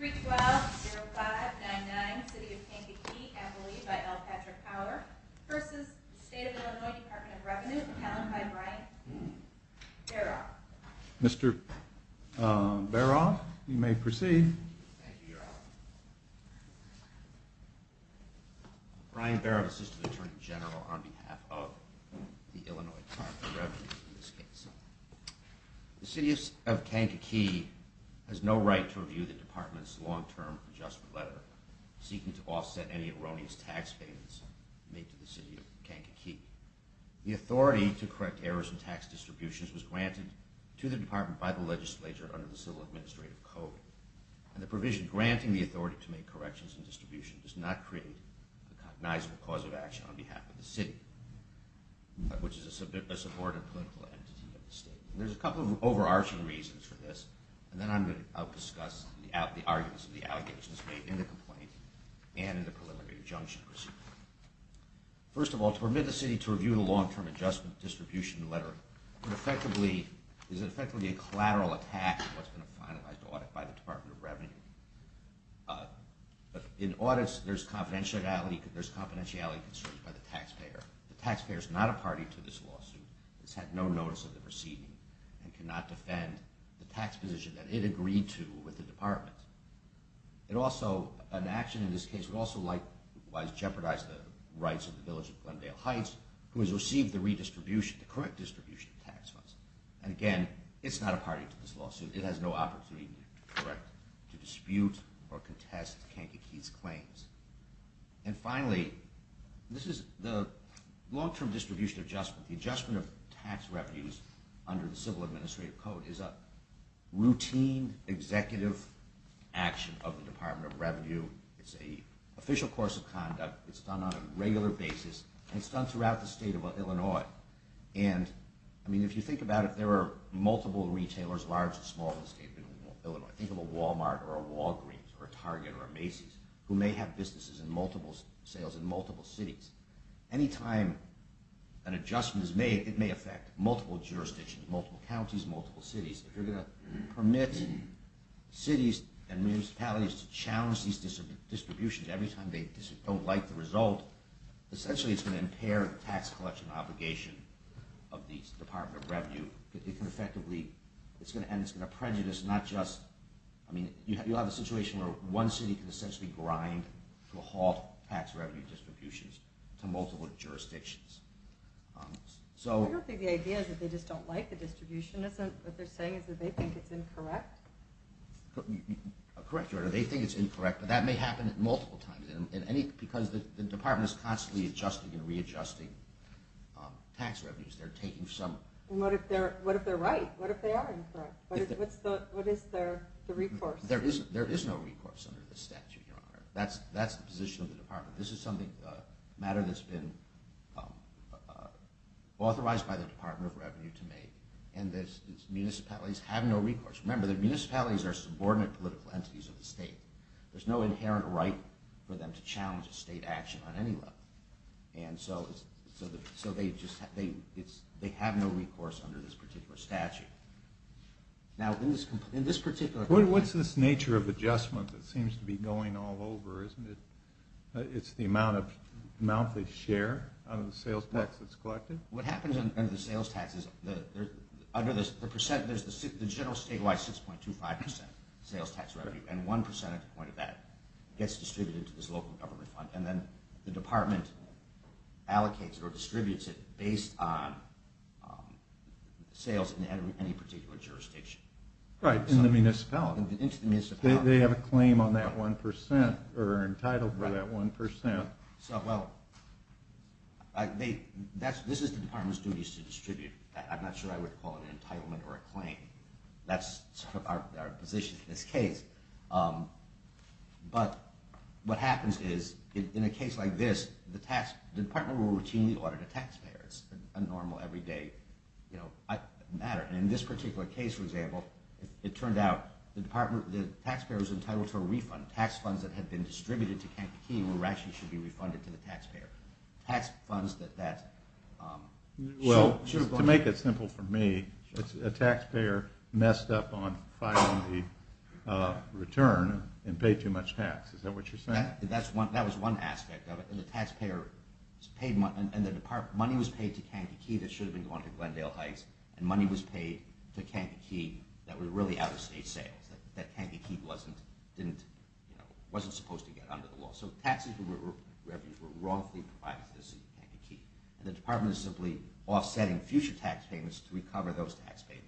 312-0599, City of Kankakee, Abilene by L. Patrick Howler v. State of Illinois Department of Revenue The City of Kankakee has no right to review the department's long-term adjustment letter seeking to offset any erroneous tax payments made to the City of Kankakee. The authority to correct errors in tax distributions was granted to the department by the legislature under the Civil Administrative Code. And the provision granting the authority to make corrections and distributions does not create a cognizable cause of action on behalf of the city, which is a subordinate political entity of the state. There are a couple of overarching reasons for this, and then I will discuss the arguments and the allegations made in the complaint and in the preliminary injunction received. First of all, to permit the city to review the long-term adjustment distribution letter is effectively a collateral attack on what's been a finalized audit by the Department of Revenue. In audits, there's confidentiality concerns by the taxpayer. The taxpayer is not a party to this lawsuit, has had no notice of the proceedings, and cannot defend the tax position that it agreed to with the department. An action in this case would also likewise jeopardize the rights of the village of Glendale Heights, who has received the correct distribution of tax funds. And again, it's not a party to this lawsuit. It has no opportunity to dispute or contest Kankakee's claims. And finally, the long-term distribution adjustment, the adjustment of tax revenues under the Civil Administrative Code is a routine executive action of the Department of Revenue. It's an official course of conduct. It's done on a regular basis, and it's done throughout the state of Illinois. And, I mean, if you think about it, there are multiple retailers, large and small in the state of Illinois. Think of a Walmart or a Walgreens or a Target or a Macy's, who may have businesses and multiple sales in multiple cities. Anytime an adjustment is made, it may affect multiple jurisdictions, multiple counties, multiple cities. If you're going to permit cities and municipalities to challenge these distributions every time they don't like the result, essentially it's going to impair the tax collection obligation of the Department of Revenue. It can effectively – and it's going to prejudice, not just – I mean, you have a situation where one city can essentially grind to halt tax revenue distributions to multiple jurisdictions. I don't think the idea is that they just don't like the distribution. Isn't what they're saying is that they think it's incorrect? Correct, Your Honor. They think it's incorrect, but that may happen multiple times. Because the Department is constantly adjusting and readjusting tax revenues. They're taking some – What if they're right? What if they are incorrect? What is the recourse? There is no recourse under this statute, Your Honor. That's the position of the Department. This is something – a matter that's been authorized by the Department of Revenue to make, and municipalities have no recourse. Remember, the municipalities are subordinate political entities of the state. There's no inherent right for them to challenge a state action on any level. And so they just – they have no recourse under this particular statute. Now, in this particular – What's this nature of adjustment that seems to be going all over? Isn't it – it's the amount they share out of the sales tax that's collected? What happens under the sales tax is under the percent – there's the general statewide 6.25% sales tax revenue. And 1% at the point of that gets distributed to this local government fund. And then the Department allocates or distributes it based on sales in any particular jurisdiction. Right, in the municipality. Into the municipality. They have a claim on that 1% or are entitled to that 1%. So, well, this is the Department's duties to distribute. I'm not sure I would call it an entitlement or a claim. That's our position in this case. But what happens is, in a case like this, the Department will routinely audit the taxpayers, a normal, everyday matter. And in this particular case, for example, it turned out the taxpayer was entitled to a refund. Tax funds that had been distributed to Kankakee were actually should be refunded to the taxpayer. Tax funds that that – Well, to make it simple for me, a taxpayer messed up on filing the return and paid too much tax. Is that what you're saying? That was one aspect of it. And the money was paid to Kankakee that should have been going to Glendale Heights. And money was paid to Kankakee that was really out-of-state sales. That Kankakee wasn't supposed to get under the law. So taxes and revenues were wrongfully provided to the City of Kankakee. And the Department is simply offsetting future tax payments to recover those tax payments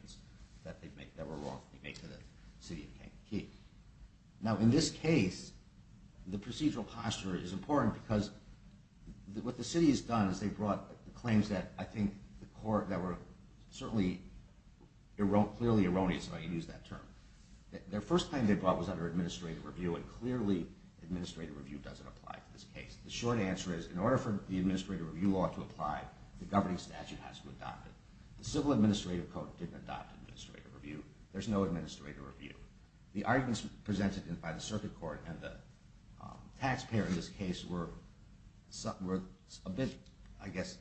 that were wrongfully made to the City of Kankakee. Now, in this case, the procedural posture is important because what the City has done is they've brought claims that I think the court – that were certainly clearly erroneous when they used that term. Their first claim they brought was under administrative review, and clearly administrative review doesn't apply to this case. The short answer is in order for the administrative review law to apply, the governing statute has to adopt it. The Civil Administrative Code didn't adopt administrative review. There's no administrative review. The arguments presented by the circuit court and the taxpayer in this case were a bit, I guess,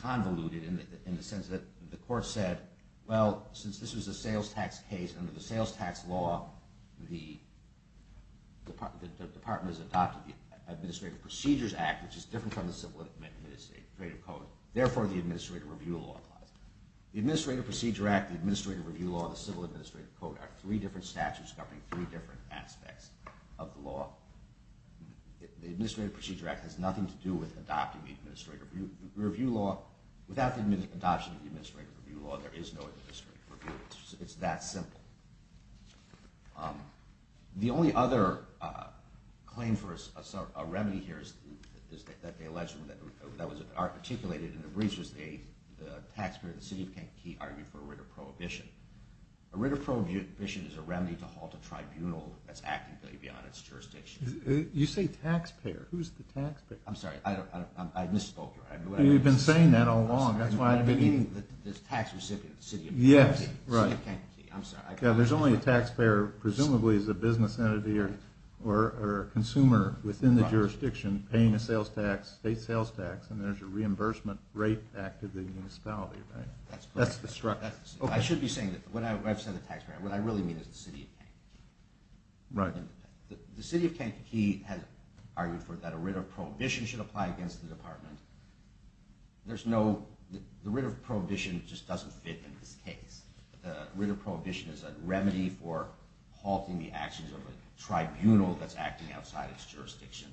convoluted in the sense that the court said, well, since this was a sales tax case, under the sales tax law, the Department has adopted the Administrative Procedures Act, which is different from the Civil Administrative Code. Therefore, the administrative review law applies. The Administrative Procedure Act, the Administrative Review Law, and the Civil Administrative Code are three different statutes governing three different aspects of the law. The Administrative Procedure Act has nothing to do with adopting the administrative review law. Without the adoption of the administrative review law, there is no administrative review. It's that simple. The only other claim for a remedy here is that they allege that it was articulated in the briefs that the taxpayer of the city of Kankakee argued for a writ of prohibition. A writ of prohibition is a remedy to halt a tribunal that's actively beyond its jurisdiction. You say taxpayer. Who's the taxpayer? I'm sorry. I misspoke. You've been saying that all along. The tax recipient, the city of Kankakee. There's only a taxpayer, presumably as a business entity or a consumer within the jurisdiction, paying a sales tax, state sales tax, and there's a reimbursement rate active in the municipality, right? That's correct. I should be saying that when I've said the taxpayer, what I really mean is the city of Kankakee. Right. The city of Kankakee has argued for that a writ of prohibition should apply against the Department. The writ of prohibition just doesn't fit in this case. The writ of prohibition is a remedy for halting the actions of a tribunal that's acting outside its jurisdiction.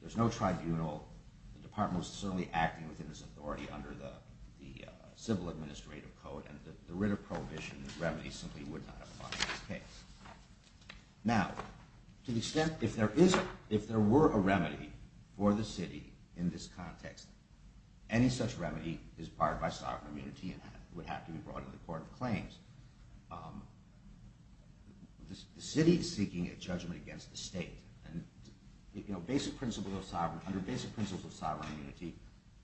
There's no tribunal. The Department was certainly acting within its authority under the Civil Administrative Code, and the writ of prohibition, the remedy, simply would not apply in this case. Now, to the extent if there were a remedy for the city in this context, any such remedy is barred by sovereign immunity and would have to be brought to the Court of Claims. The city is seeking a judgment against the state. Under basic principles of sovereign immunity,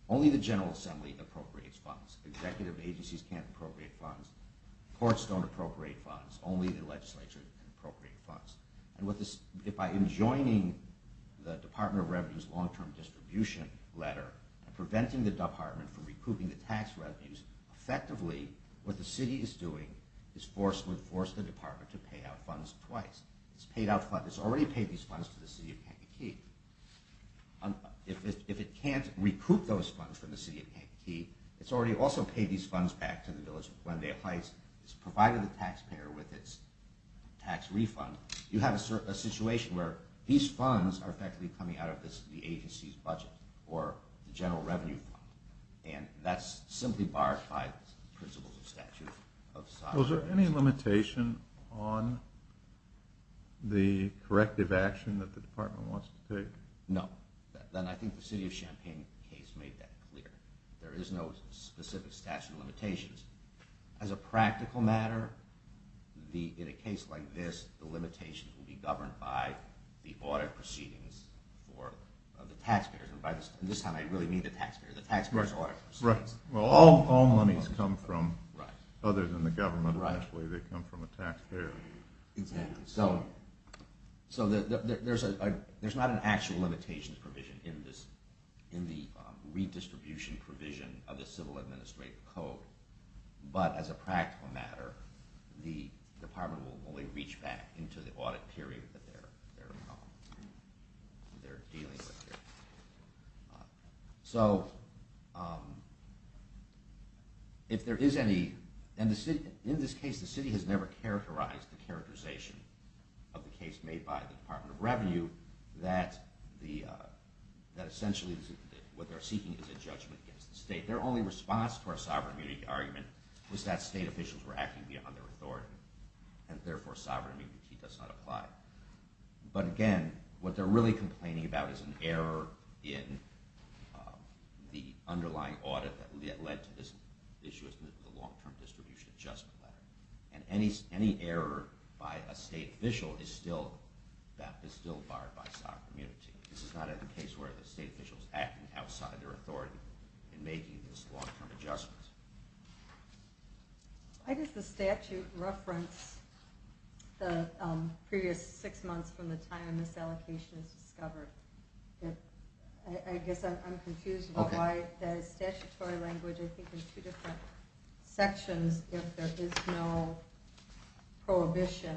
only the General Assembly appropriates funds. Executive agencies can't appropriate funds. Courts don't appropriate funds. Only the legislature can appropriate funds. And by enjoining the Department of Revenue's long-term distribution letter and preventing the Department from recouping the tax revenues, effectively what the city is doing is forcefully forcing the Department to pay out funds twice. It's already paid these funds to the city of Kankakee. If it can't recoup those funds from the city of Kankakee, it's already also paid these funds back to the village when they apply. It's provided the taxpayer with its tax refund. You have a situation where these funds are effectively coming out of the agency's budget or general revenue. And that's simply barred by the principles and statutes of sovereign immunity. Was there any limitation on the corrective action that the Department wants to take? No. And I think the city of Champaign case made that clear. There is no specific statute of limitations. As a practical matter, in a case like this, the limitation will be governed by the audit proceedings of the taxpayers. And by this time, I really mean the taxpayers. The taxpayers' audit proceedings. Right. Well, all monies come from others in the government. Actually, they come from a taxpayer. Exactly. So there's not an actual limitations provision in the redistribution provision of the Civil Administrative Code. But as a practical matter, the Department will only reach back into the audit period that they're dealing with here. So if there is any – and in this case, the city has never characterized the characterization of the case made by the Department of Revenue that essentially what they're seeking is a judgment against the state. Their only response to our sovereign immunity argument was that state officials were acting beyond their authority. And therefore, sovereign immunity does not apply. But again, what they're really complaining about is an error in the underlying audit that led to this issue as a long-term distribution adjustment matter. And any error by a state official is still barred by sovereign immunity. This is not a case where the state official is acting outside their authority in making this long-term adjustment. Why does the statute reference the previous six months from the time this allocation was discovered? I guess I'm confused about why it says statutory language, I think, in two different sections, if there is no prohibition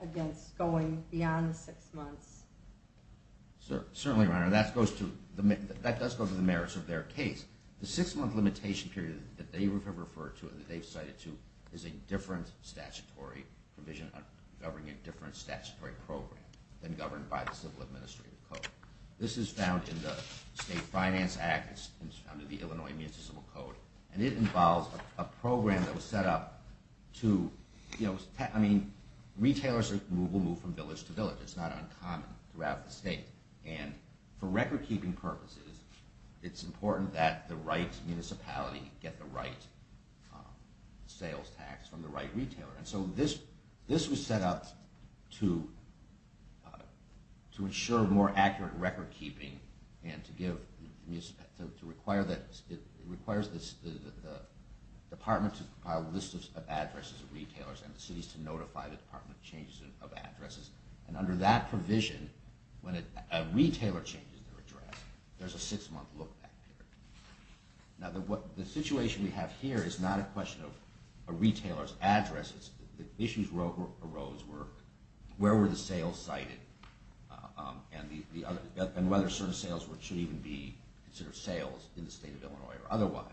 against going beyond six months. Certainly, Your Honor, that does go to the merits of their case. The six-month limitation period that they have referred to and that they've cited to is a different statutory provision governing a different statutory program than governed by the Civil Administrative Code. This is found in the State Finance Act. It's found in the Illinois Administrative Code. And it involves a program that was set up to – I mean, retailers will move from village to village. It's not uncommon throughout the state. And for record-keeping purposes, it's important that the right municipality get the right sales tax from the right retailer. And so this was set up to ensure more accurate record-keeping and to require that – it requires the department to compile a list of addresses of retailers and the cities to notify the department of changes of addresses. And under that provision, when a retailer changes their address, there's a six-month lookback period. Now, the situation we have here is not a question of a retailer's address. The issues arose were where were the sales cited and whether certain sales should even be considered sales in the state of Illinois or otherwise.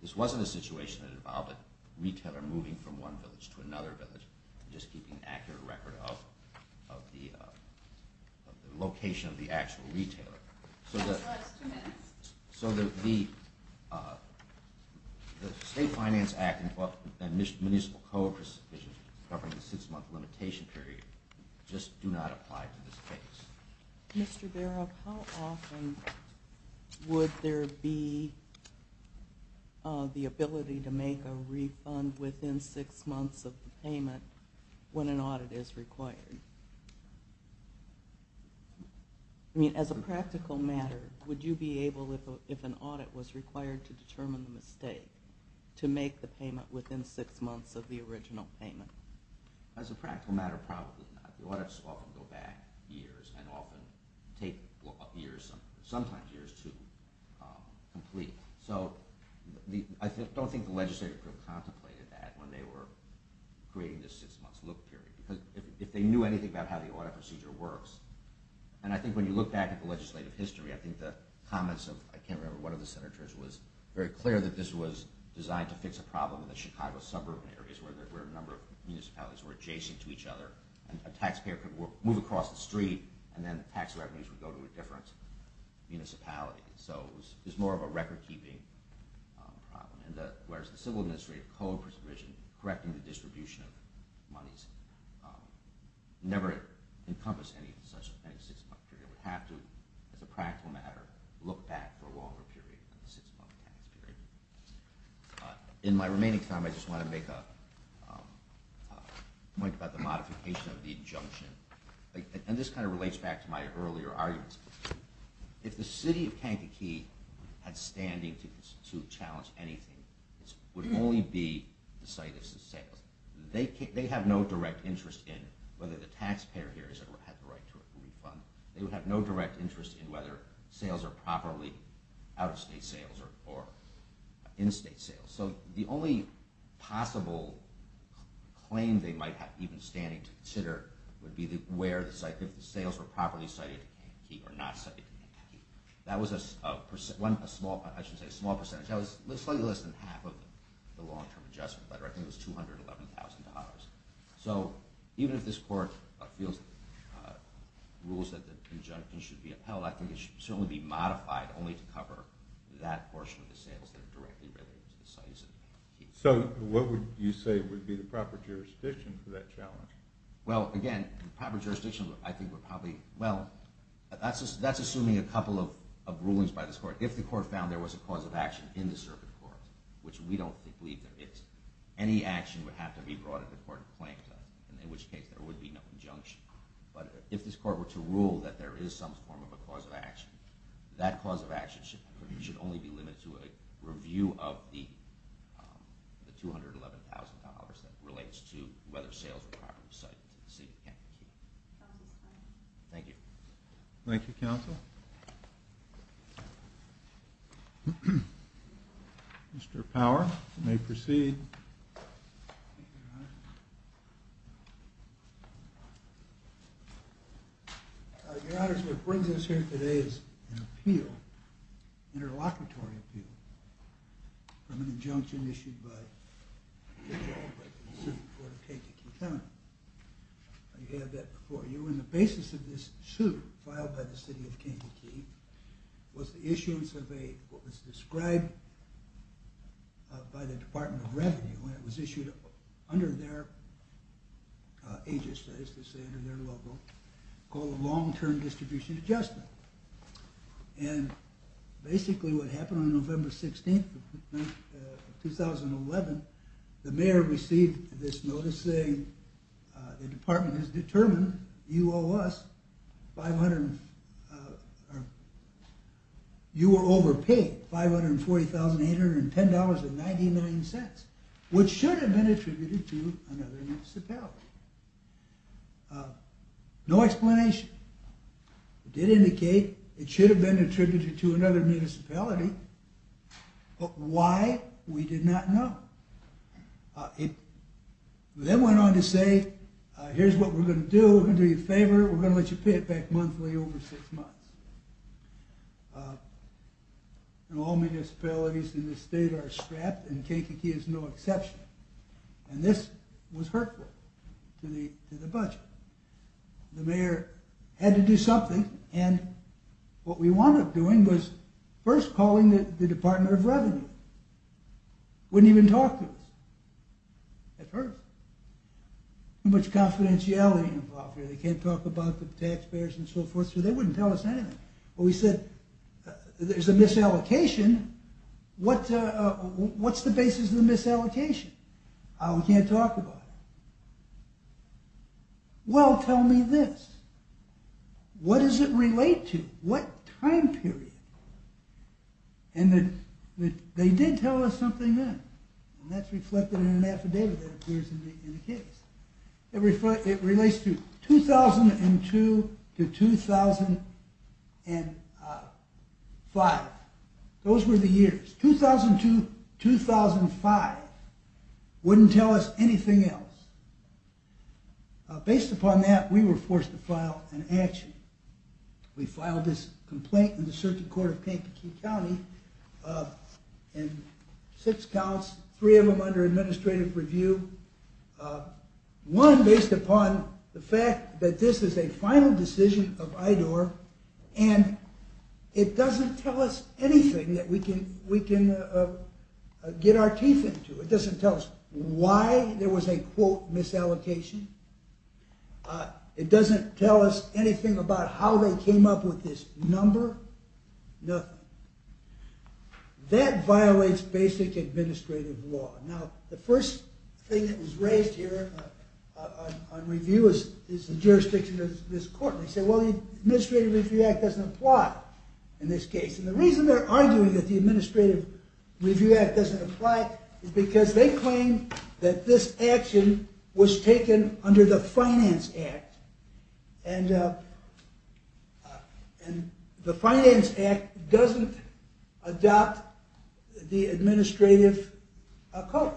This wasn't a situation that involved a retailer moving from one village to another village and just keeping an accurate record of the location of the actual retailer. So the State Finance Act and Municipal Code provisions covering the six-month limitation period just do not apply to this case. Mr. Baroff, how often would there be the ability to make a refund within six months of the payment when an audit is required? I mean, as a practical matter, would you be able, if an audit was required to determine the mistake, to make the payment within six months of the original payment? As a practical matter, probably not. Audits often go back years and often take years, sometimes years, to complete. So I don't think the legislative group contemplated that when they were creating this six-month look period. If they knew anything about how the audit procedure works, and I think when you look back at the legislative history, I think the comments of, I can't remember, one of the Senators was very clear that this was designed to fix a problem in the Chicago suburban areas where a number of municipalities were adjacent to each other, and a taxpayer could move across the street and then the tax revenues would go to a different municipality. So it was more of a record-keeping problem, whereas the Civil Administrative Code provision correcting the distribution of monies never encompassed any such six-month period. We have to, as a practical matter, look back for a longer period than a six-month payment period. In my remaining time, I just want to make a point about the modification of the injunction. And this kind of relates back to my earlier arguments. If the city of Kankakee had standing to challenge anything, it would only be the site of sales. They have no direct interest in whether the taxpayer here has the right to a refund. They would have no direct interest in whether sales are properly out-of-state sales or in-state sales. So the only possible claim they might have even standing to consider would be where the sales were properly cited in Kankakee or not cited in Kankakee. That was a small percentage. That was slightly less than half of the long-term adjustment letter. I think it was $211,000. So even if this Court rules that the injunction should be upheld, I think it should certainly be modified only to cover that portion of the sales that are directly related to the sites in Kankakee. So what would you say would be the proper jurisdiction for that challenge? Well, again, the proper jurisdiction, I think, would probably – well, that's assuming a couple of rulings by this Court. If the Court found there was a cause of action in the circuit court, which we don't believe there is, any action would have to be brought at the Court of Claims, in which case there would be no injunction. But if this Court were to rule that there is some form of a cause of action, that cause of action should only be limited to a review of the $211,000 that relates to whether sales were properly cited in the city of Kankakee. Thank you. Thank you, Counsel. Mr. Power, you may proceed. Thank you, Your Honor. Your Honor, so what brings us here today is an appeal, an interlocutory appeal, from an injunction issued by the circuit court of Kankakee County. You had that before. And the basis of this suit filed by the city of Kankakee was the issuance of what was described by the Department of Revenue when it was issued under their agency, as they say under their logo, called a long-term distribution adjustment. And basically what happened on November 16th of 2011, the mayor received this notice saying, the department has determined you owe us $540,810.99, which should have been attributed to another municipality. No explanation. It did indicate it should have been attributed to another municipality, but why, we did not know. It then went on to say, here's what we're going to do, we're going to do you a favor, we're going to let you pay it back monthly over six months. And all municipalities in this state are strapped, and Kankakee is no exception. And this was hurtful to the budget. The mayor had to do something, and what we wound up doing was first calling the Department of Revenue. Wouldn't even talk to us. That hurt. Too much confidentiality involved here, they can't talk about the taxpayers and so forth, so they wouldn't tell us anything. We said, there's a misallocation, what's the basis of the misallocation? We can't talk about it. Well, tell me this, what does it relate to? What time period? And they did tell us something then, and that's reflected in an affidavit that appears in the case. It relates to 2002 to 2005. Those were the years. 2002-2005 wouldn't tell us anything else. Based upon that, we were forced to file an action. We filed this complaint in the Circuit Court of Kankakee County. Six counts, three of them under administrative review. One based upon the fact that this is a final decision of IDOR, and it doesn't tell us anything that we can get our teeth into. It doesn't tell us why there was a quote misallocation. It doesn't tell us anything about how they came up with this number. Nothing. That violates basic administrative law. Now, the first thing that was raised here on review is the jurisdiction of this court. They said, well, the Administrative Review Act doesn't apply in this case. And the reason they're arguing that the Administrative Review Act doesn't apply is because they claim that this action was taken under the Finance Act. And the Finance Act doesn't adopt the administrative code.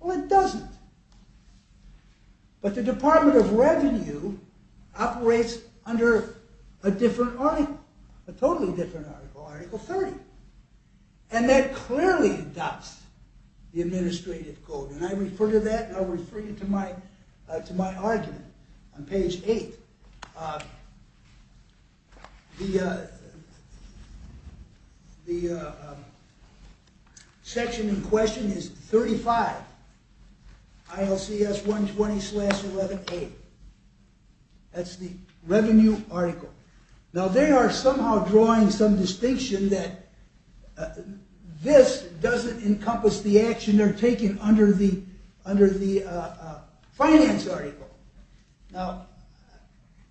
Well, it doesn't. But the Department of Revenue operates under a different article, a totally different article, Article 30. And that clearly adopts the administrative code. And I refer to that, and I'll refer you to my argument on page 8. The section in question is 35, ILCS 120-11A. That's the revenue article. Now, they are somehow drawing some distinction that this doesn't encompass the action they're taking under the finance article. Now,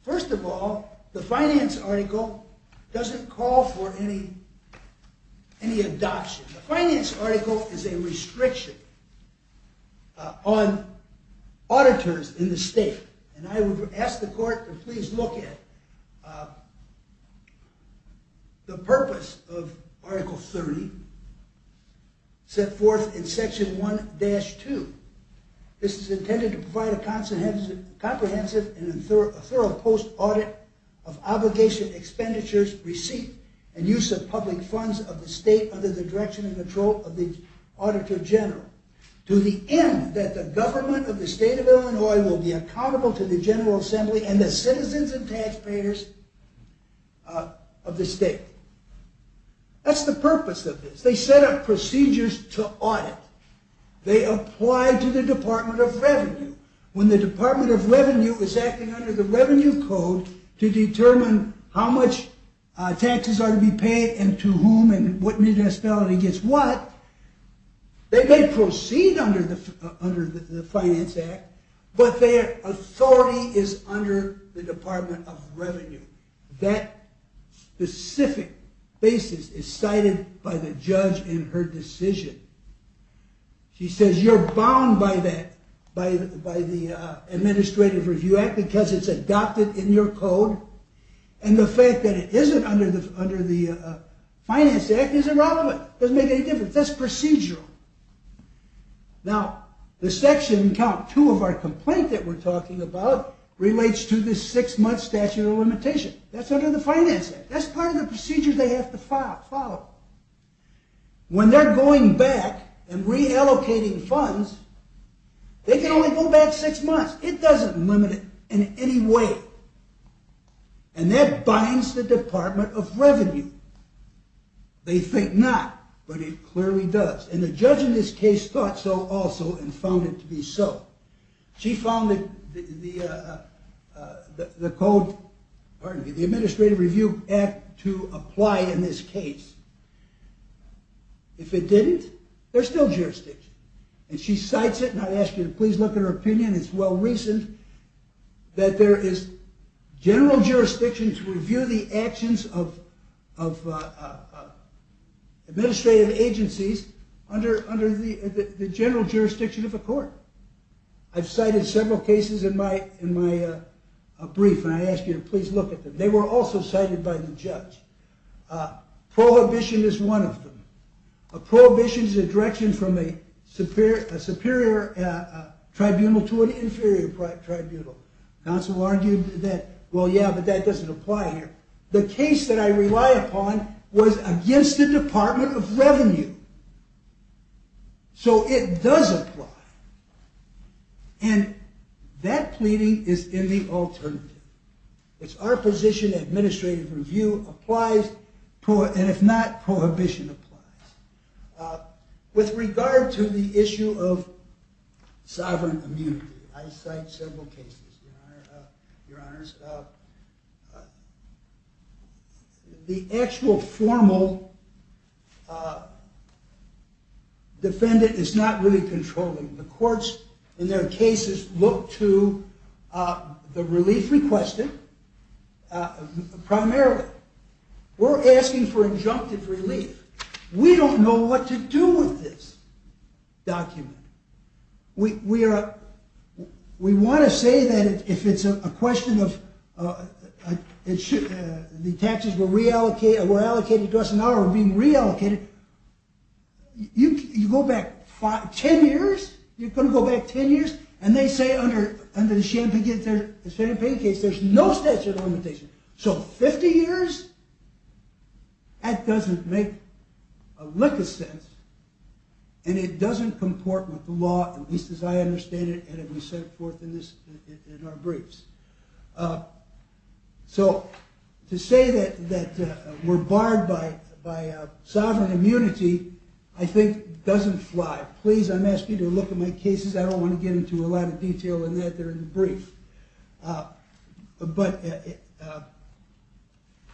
first of all, the finance article doesn't call for any adoption. The finance article is a restriction on auditors in the state. And I would ask the court to please look at the purpose of Article 30 set forth in Section 1-2. This is intended to provide a comprehensive and thorough post-audit of obligation expenditures, receipts, and use of public funds of the state under the direction and control of the Auditor General. To the end that the government of the state of Illinois will be accountable to the General Assembly and the citizens and taxpayers of the state. That's the purpose of this. They set up procedures to audit. They apply to the Department of Revenue. When the Department of Revenue is acting under the Revenue Code to determine how much taxes are to be paid and to whom and what municipality gets what, they may proceed under the Finance Act, but their authority is under the Department of Revenue. That specific basis is cited by the judge in her decision. She says you're bound by the Administrative Review Act because it's adopted in your code, and the fact that it isn't under the Finance Act isn't relevant. It doesn't make any difference. That's procedural. Now, the section in count two of our complaint that we're talking about relates to the six-month statute of limitation. That's under the Finance Act. That's part of the procedure they have to follow. When they're going back and reallocating funds, they can only go back six months. It doesn't limit it in any way, and that binds the Department of Revenue. They think not, but it clearly does. The judge in this case thought so also and found it to be so. She found the Administrative Review Act to apply in this case. If it didn't, there's still jurisdiction. She cites it, and I ask you to please look at her opinion. It's well-recent that there is general jurisdiction to review the actions of administrative agencies under the general jurisdiction of a court. I've cited several cases in my brief, and I ask you to please look at them. They were also cited by the judge. Prohibition is one of them. A prohibition is a direction from a superior tribunal to an inferior tribunal. Counsel argued that, well, yeah, but that doesn't apply here. The case that I rely upon was against the Department of Revenue. So it does apply, and that pleading is in the alternative. It's our position that administrative review applies, and if not, prohibition applies. With regard to the issue of sovereign immunity, I cite several cases, Your Honors. The actual formal defendant is not really controlling. The courts, in their cases, look to the relief requested primarily. We're asking for injunctive relief. We don't know what to do with this document. We want to say that if it's a question of the taxes were allocated to us and now are being reallocated, you go back 10 years, you're going to go back 10 years, and they say under the Champaign case there's no statute of limitations. So 50 years? That doesn't make a lick of sense, and it doesn't comport with the law, at least as I understand it, and as we set forth in our briefs. So to say that we're barred by sovereign immunity, I think, doesn't fly. Please, I'm asking you to look at my cases. I don't want to get into a lot of detail in that. They're in the brief. But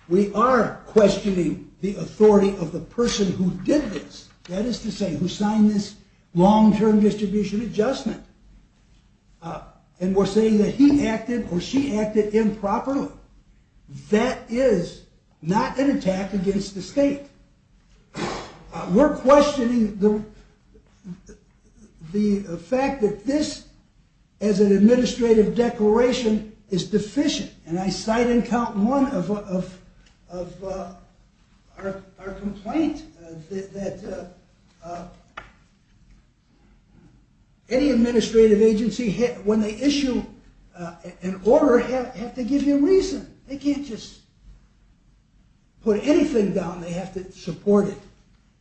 we are questioning the authority of the person who did this, that is to say, who signed this long-term distribution adjustment, and we're saying that he acted or she acted improperly. That is not an attack against the state. We're questioning the fact that this, as an administrative declaration, is deficient, and I cite in count one of our complaint that any administrative agency, when they issue an order, have to give you a reason. They can't just put anything down. They have to support it.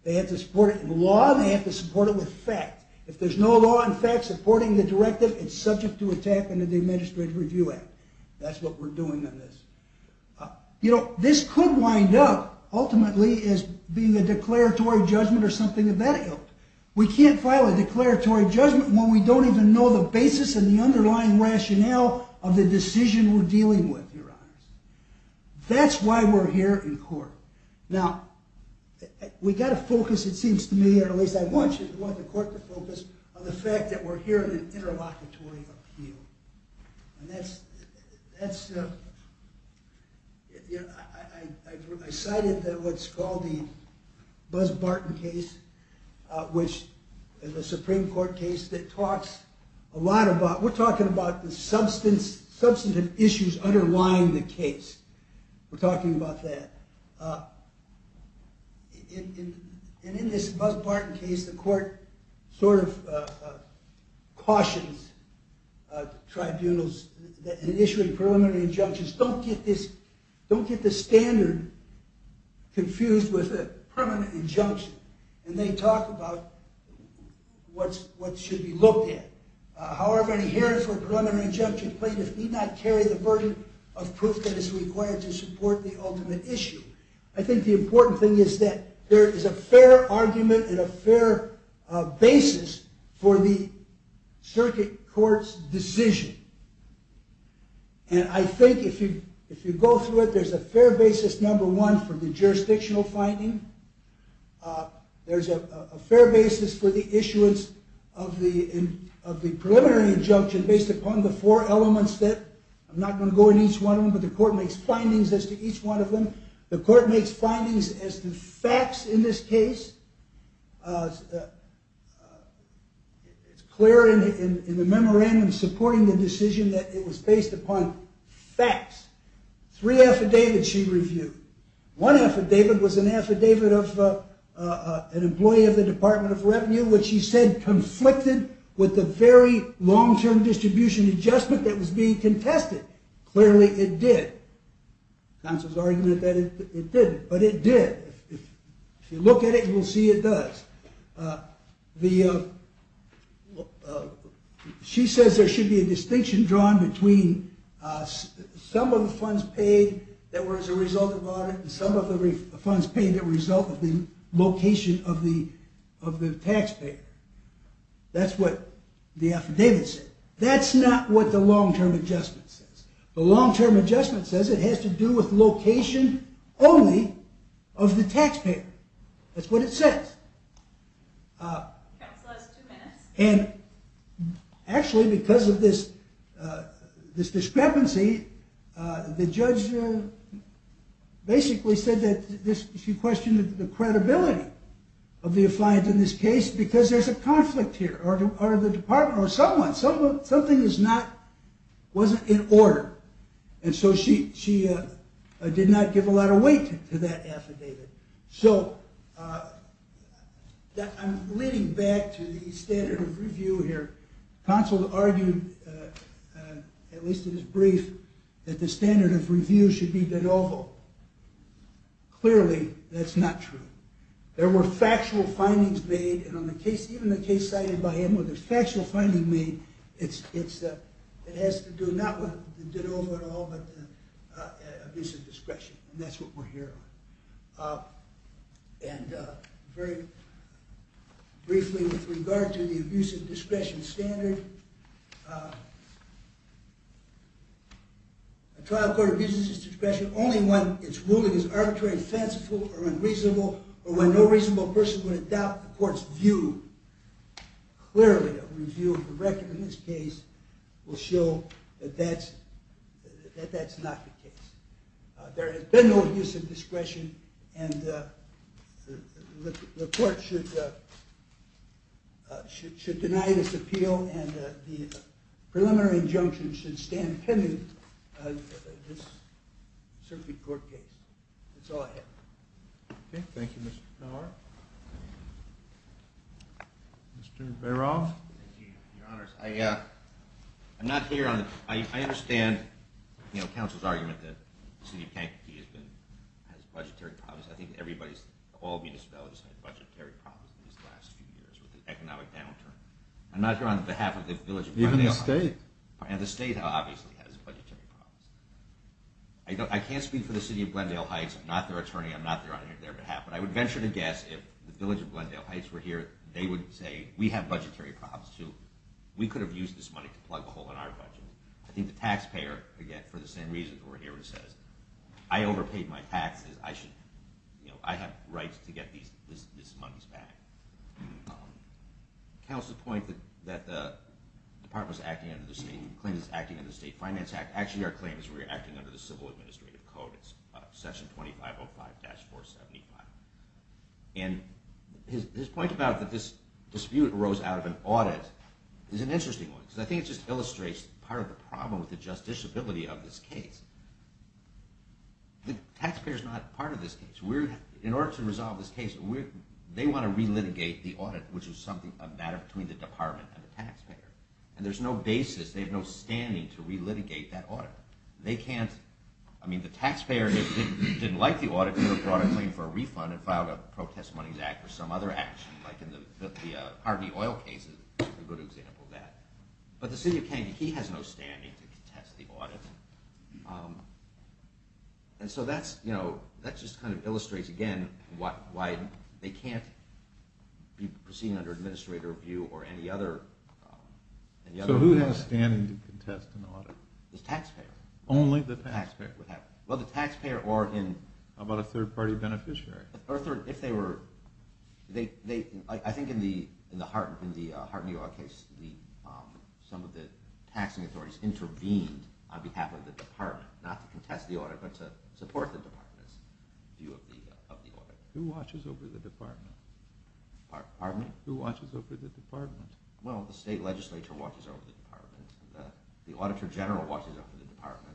They have to support it in law, and they have to support it with fact. If there's no law in fact supporting the directive, it's subject to attack under the Administrative Review Act. That's what we're doing on this. This could wind up, ultimately, as being a declaratory judgment or something of that ilk. We can't file a declaratory judgment when we don't even know the basis and the underlying rationale of the decision we're dealing with, Your Honors. That's why we're here in court. Now, we've got to focus, it seems to me, or at least I want the court to focus, on the fact that we're here in an interlocutory appeal. I cited what's called the Bus Barton case, which is a Supreme Court case that talks a lot about, we're talking about the substantive issues underlying the case. We're talking about that. In this Bus Barton case, the court sort of cautions tribunals in issuing preliminary injunctions, don't get the standard confused with a permanent injunction. They talk about what should be looked at. However, in a hearing for a preliminary injunction, plaintiffs need not carry the burden of proof that is required to support the ultimate issue. I think the important thing is that there is a fair argument and a fair basis for the circuit court's decision. I think if you go through it, there's a fair basis, number one, for the jurisdictional finding. There's a fair basis for the issuance of the preliminary injunction based upon the four elements that, I'm not going to go into each one of them, but the court makes findings as to each one of them. The court makes findings as to facts in this case. It's clear in the memorandum supporting the decision that it was based upon facts. Three affidavits she reviewed. One affidavit was an affidavit of an employee of the Department of Revenue, which she said conflicted with the very long-term distribution adjustment that was being contested. Clearly, it did. Counsel's argument that it didn't, but it did. If you look at it, you'll see it does. She says there should be a distinction drawn between some of the funds paid that were as a result of audit and some of the funds paid as a result of the location of the taxpayer. That's what the affidavit said. That's not what the long-term adjustment says. The long-term adjustment says it has to do with location only of the taxpayer. That's what it says. Counsel has two minutes. Actually, because of this discrepancy, the judge basically said that she questioned the credibility of the affiant in this case because there's a conflict here or the department or someone. Something wasn't in order. She did not give a lot of weight to that affidavit. I'm leading back to the standard of review here. Counsel argued, at least in his brief, that the standard of review should be de novo. Clearly, that's not true. There were factual findings made, and even the case cited by him with the factual finding made, it has to do not with the de novo at all but the abuse of discretion. That's what we're here on. Very briefly, with regard to the abuse of discretion standard, a trial court abuses its discretion only when its ruling is arbitrary, when it's very offensive or unreasonable, or when no reasonable person would adopt the court's view. Clearly, a review of the record in this case will show that that's not the case. There has been no abuse of discretion, and the court should deny this appeal, and the preliminary injunction should stand pending in this circuit court case. That's all I have. Thank you, Mr. Nauert. Mr. Bairoff. Your Honors, I understand counsel's argument that the city of Kankopee has budgetary problems. I think all municipalities have budgetary problems in these last few years with the economic downturn. I'm not here on behalf of the village of Kankopee. Even the state. And the state obviously has budgetary problems. I can't speak for the city of Glendale Heights. I'm not their attorney. I'm not there on their behalf. But I would venture to guess if the village of Glendale Heights were here, they would say, we have budgetary problems, too. We could have used this money to plug a hole in our budget. I think the taxpayer, again, for the same reason, who are here would say, I overpaid my taxes. I have rights to get these monies back. Counsel's point that the department is acting under the same claim that it's acting under the state finance act. Actually, our claim is we're acting under the civil administrative code. It's section 2505-475. And his point about that this dispute arose out of an audit is an interesting one. Because I think it just illustrates part of the problem with the justiciability of this case. The taxpayer is not part of this case. In order to resolve this case, they want to re-litigate the audit, which is a matter between the department and the taxpayer. And there's no basis. They have no standing to re-litigate that audit. They can't. I mean, the taxpayer didn't like the audit, could have brought a claim for a refund and filed a protest monies act or some other action, like in the Harvey oil case is a good example of that. But the city of Kennedy, he has no standing to contest the audit. And so that just kind of illustrates again why they can't be proceeding under administrator review or any other. So who has standing to contest an audit? The taxpayer. Only the taxpayer. Well, the taxpayer or in. How about a third party beneficiary? If they were. I think in the Harvey oil case, some of the taxing authorities intervened on behalf of the department, not to contest the audit but to support the department's view of the audit. Who watches over the department? Pardon me? Who watches over the department? Well, the state legislature watches over the department. The auditor general watches over the department.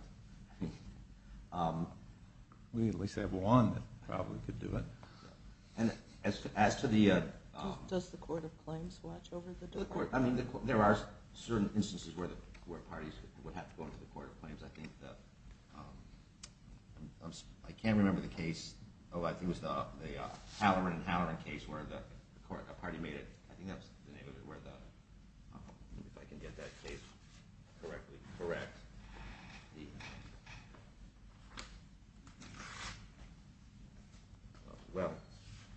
We at least have one that probably could do it. And as to the... I mean, there are certain instances where parties would have to go to the court of claims. I think that... I can't remember the case. Oh, I think it was the Halloran and Halloran case where a party made it. I think that's the name of it where the... If I can get that case correctly. Correct. Well,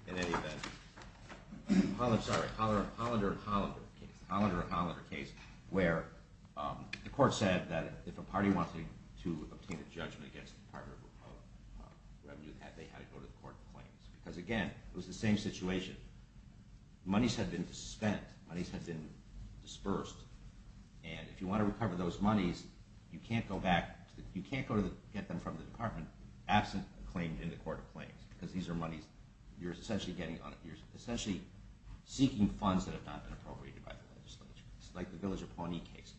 in any event... It was the Halloran and Halloran case where the court said that if a party wanted to obtain a judgment against the Department of Revenue, they had to go to the court of claims. Because again, it was the same situation. Monies had been spent. Monies had been dispersed. And if you want to recover those monies, you can't go back... You can't get them from the department absent a claim in the court of claims because these are monies... You're essentially getting... You're essentially seeking funds that have not been appropriated by the legislature. It's like the Villager Pawnee case.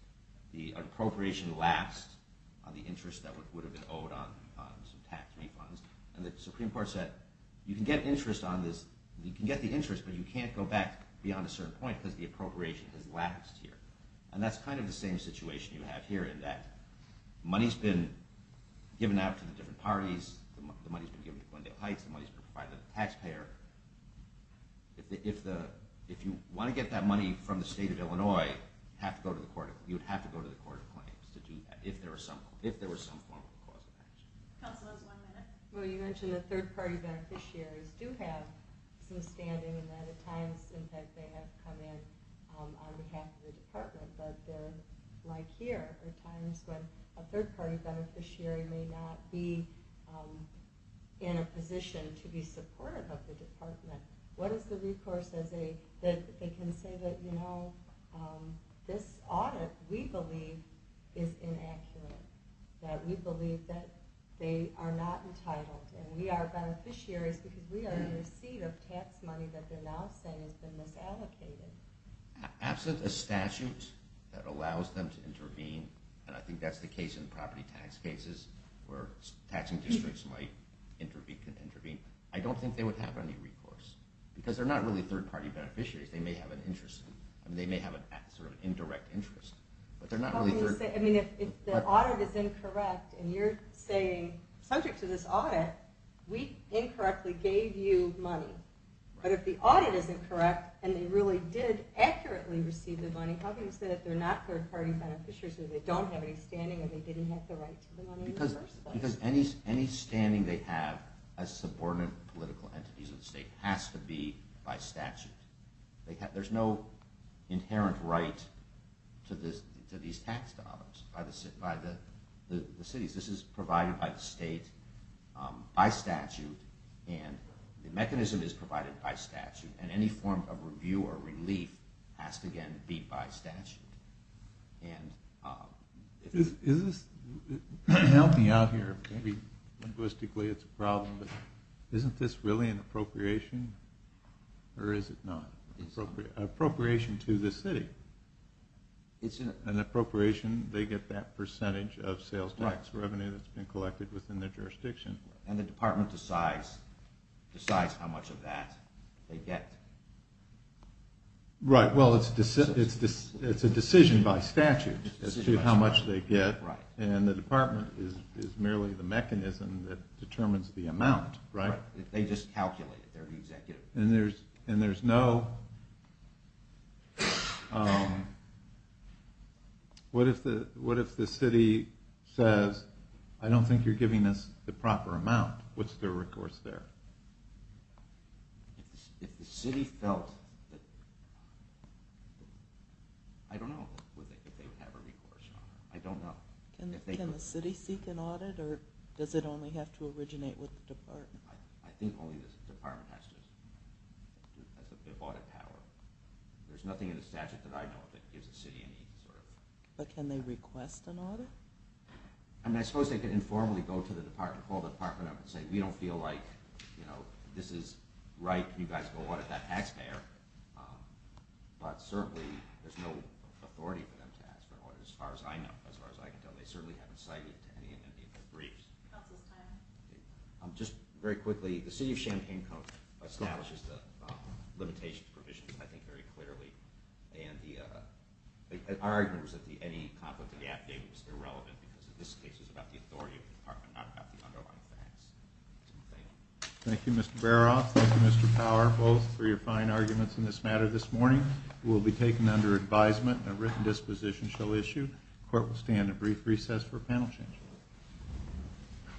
The appropriation lapsed on the interest that would have been owed on some tax refunds. And the Supreme Court said you can get interest on this... You can get the interest, but you can't go back beyond a certain point because the appropriation has lapsed here. And that's kind of the same situation you have here in that money's been given out to the different parties. The money's been given to Glendale Heights. The money's been provided to the taxpayer. If you want to get that money from the state of Illinois, you'd have to go to the court of claims to do that if there was some form of a cause of action. Counsel, one minute. Well, you mentioned that third-party beneficiaries do have some standing in that. At times, in fact, they have come in on behalf of the department. But like here, there are times when a third-party beneficiary may not be in a position to be supportive of the department. What is the recourse that they can say that, you know, this audit we believe is inaccurate, that we believe that they are not entitled and we are beneficiaries because we are in receipt of tax money that they're now saying has been misallocated? Absolutely. A statute that allows them to intervene, and I think that's the case in property tax cases where taxing districts might intervene, I don't think they would have any recourse because they're not really third-party beneficiaries. They may have an interest. I mean, they may have a sort of indirect interest. But they're not really third... I mean, if the audit is incorrect and you're saying subject to this audit, we incorrectly gave you money, but if the audit is incorrect and they really did accurately receive the money, how can you say that they're not third-party beneficiaries or they don't have any standing or they didn't have the right to the money in the first place? Because any standing they have as subordinate political entities of the state has to be by statute. There's no inherent right to these tax dollars by the cities. This is provided by the state by statute, and the mechanism is provided by statute, and any form of review or relief has to, again, be by statute. And... Is this... Help me out here. Maybe linguistically it's a problem, but isn't this really an appropriation, or is it not? Appropriation to the city. It's an appropriation. They get that percentage of sales tax revenue that's been collected within their jurisdiction. And the department decides how much of that they get. Right, well, it's a decision by statute as to how much they get, and the department is merely the mechanism that determines the amount, right? They just calculate it. And there's no... What if the city says, I don't think you're giving us the proper amount? What's their recourse there? If the city felt that... I don't know if they would have a recourse. I don't know. Can the city seek an audit, or does it only have to originate with the department? I think only the department has to. They have audit power. There's nothing in the statute that I know of that gives the city any sort of... But can they request an audit? I mean, I suppose they could informally go to the department, call the department up and say, we don't feel like this is right. Can you guys go audit that taxpayer? But certainly, there's no authority for them to ask for an audit, as far as I know, as far as I can tell. They certainly haven't cited it to any of their briefs. Just very quickly, the city of Champaign County establishes the limitation provisions, I think, very clearly. Our argument was that any conflict of the affidavit was irrelevant because this case was about the authority of the department, not about the underlying facts. Thank you. Thank you, Mr. Baroff. Thank you, Mr. Power, both for your fine arguments in this matter this morning. It will be taken under advisement, and a written disposition shall issue. The court will stand at brief recess for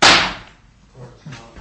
a panel change. The court is now at recess.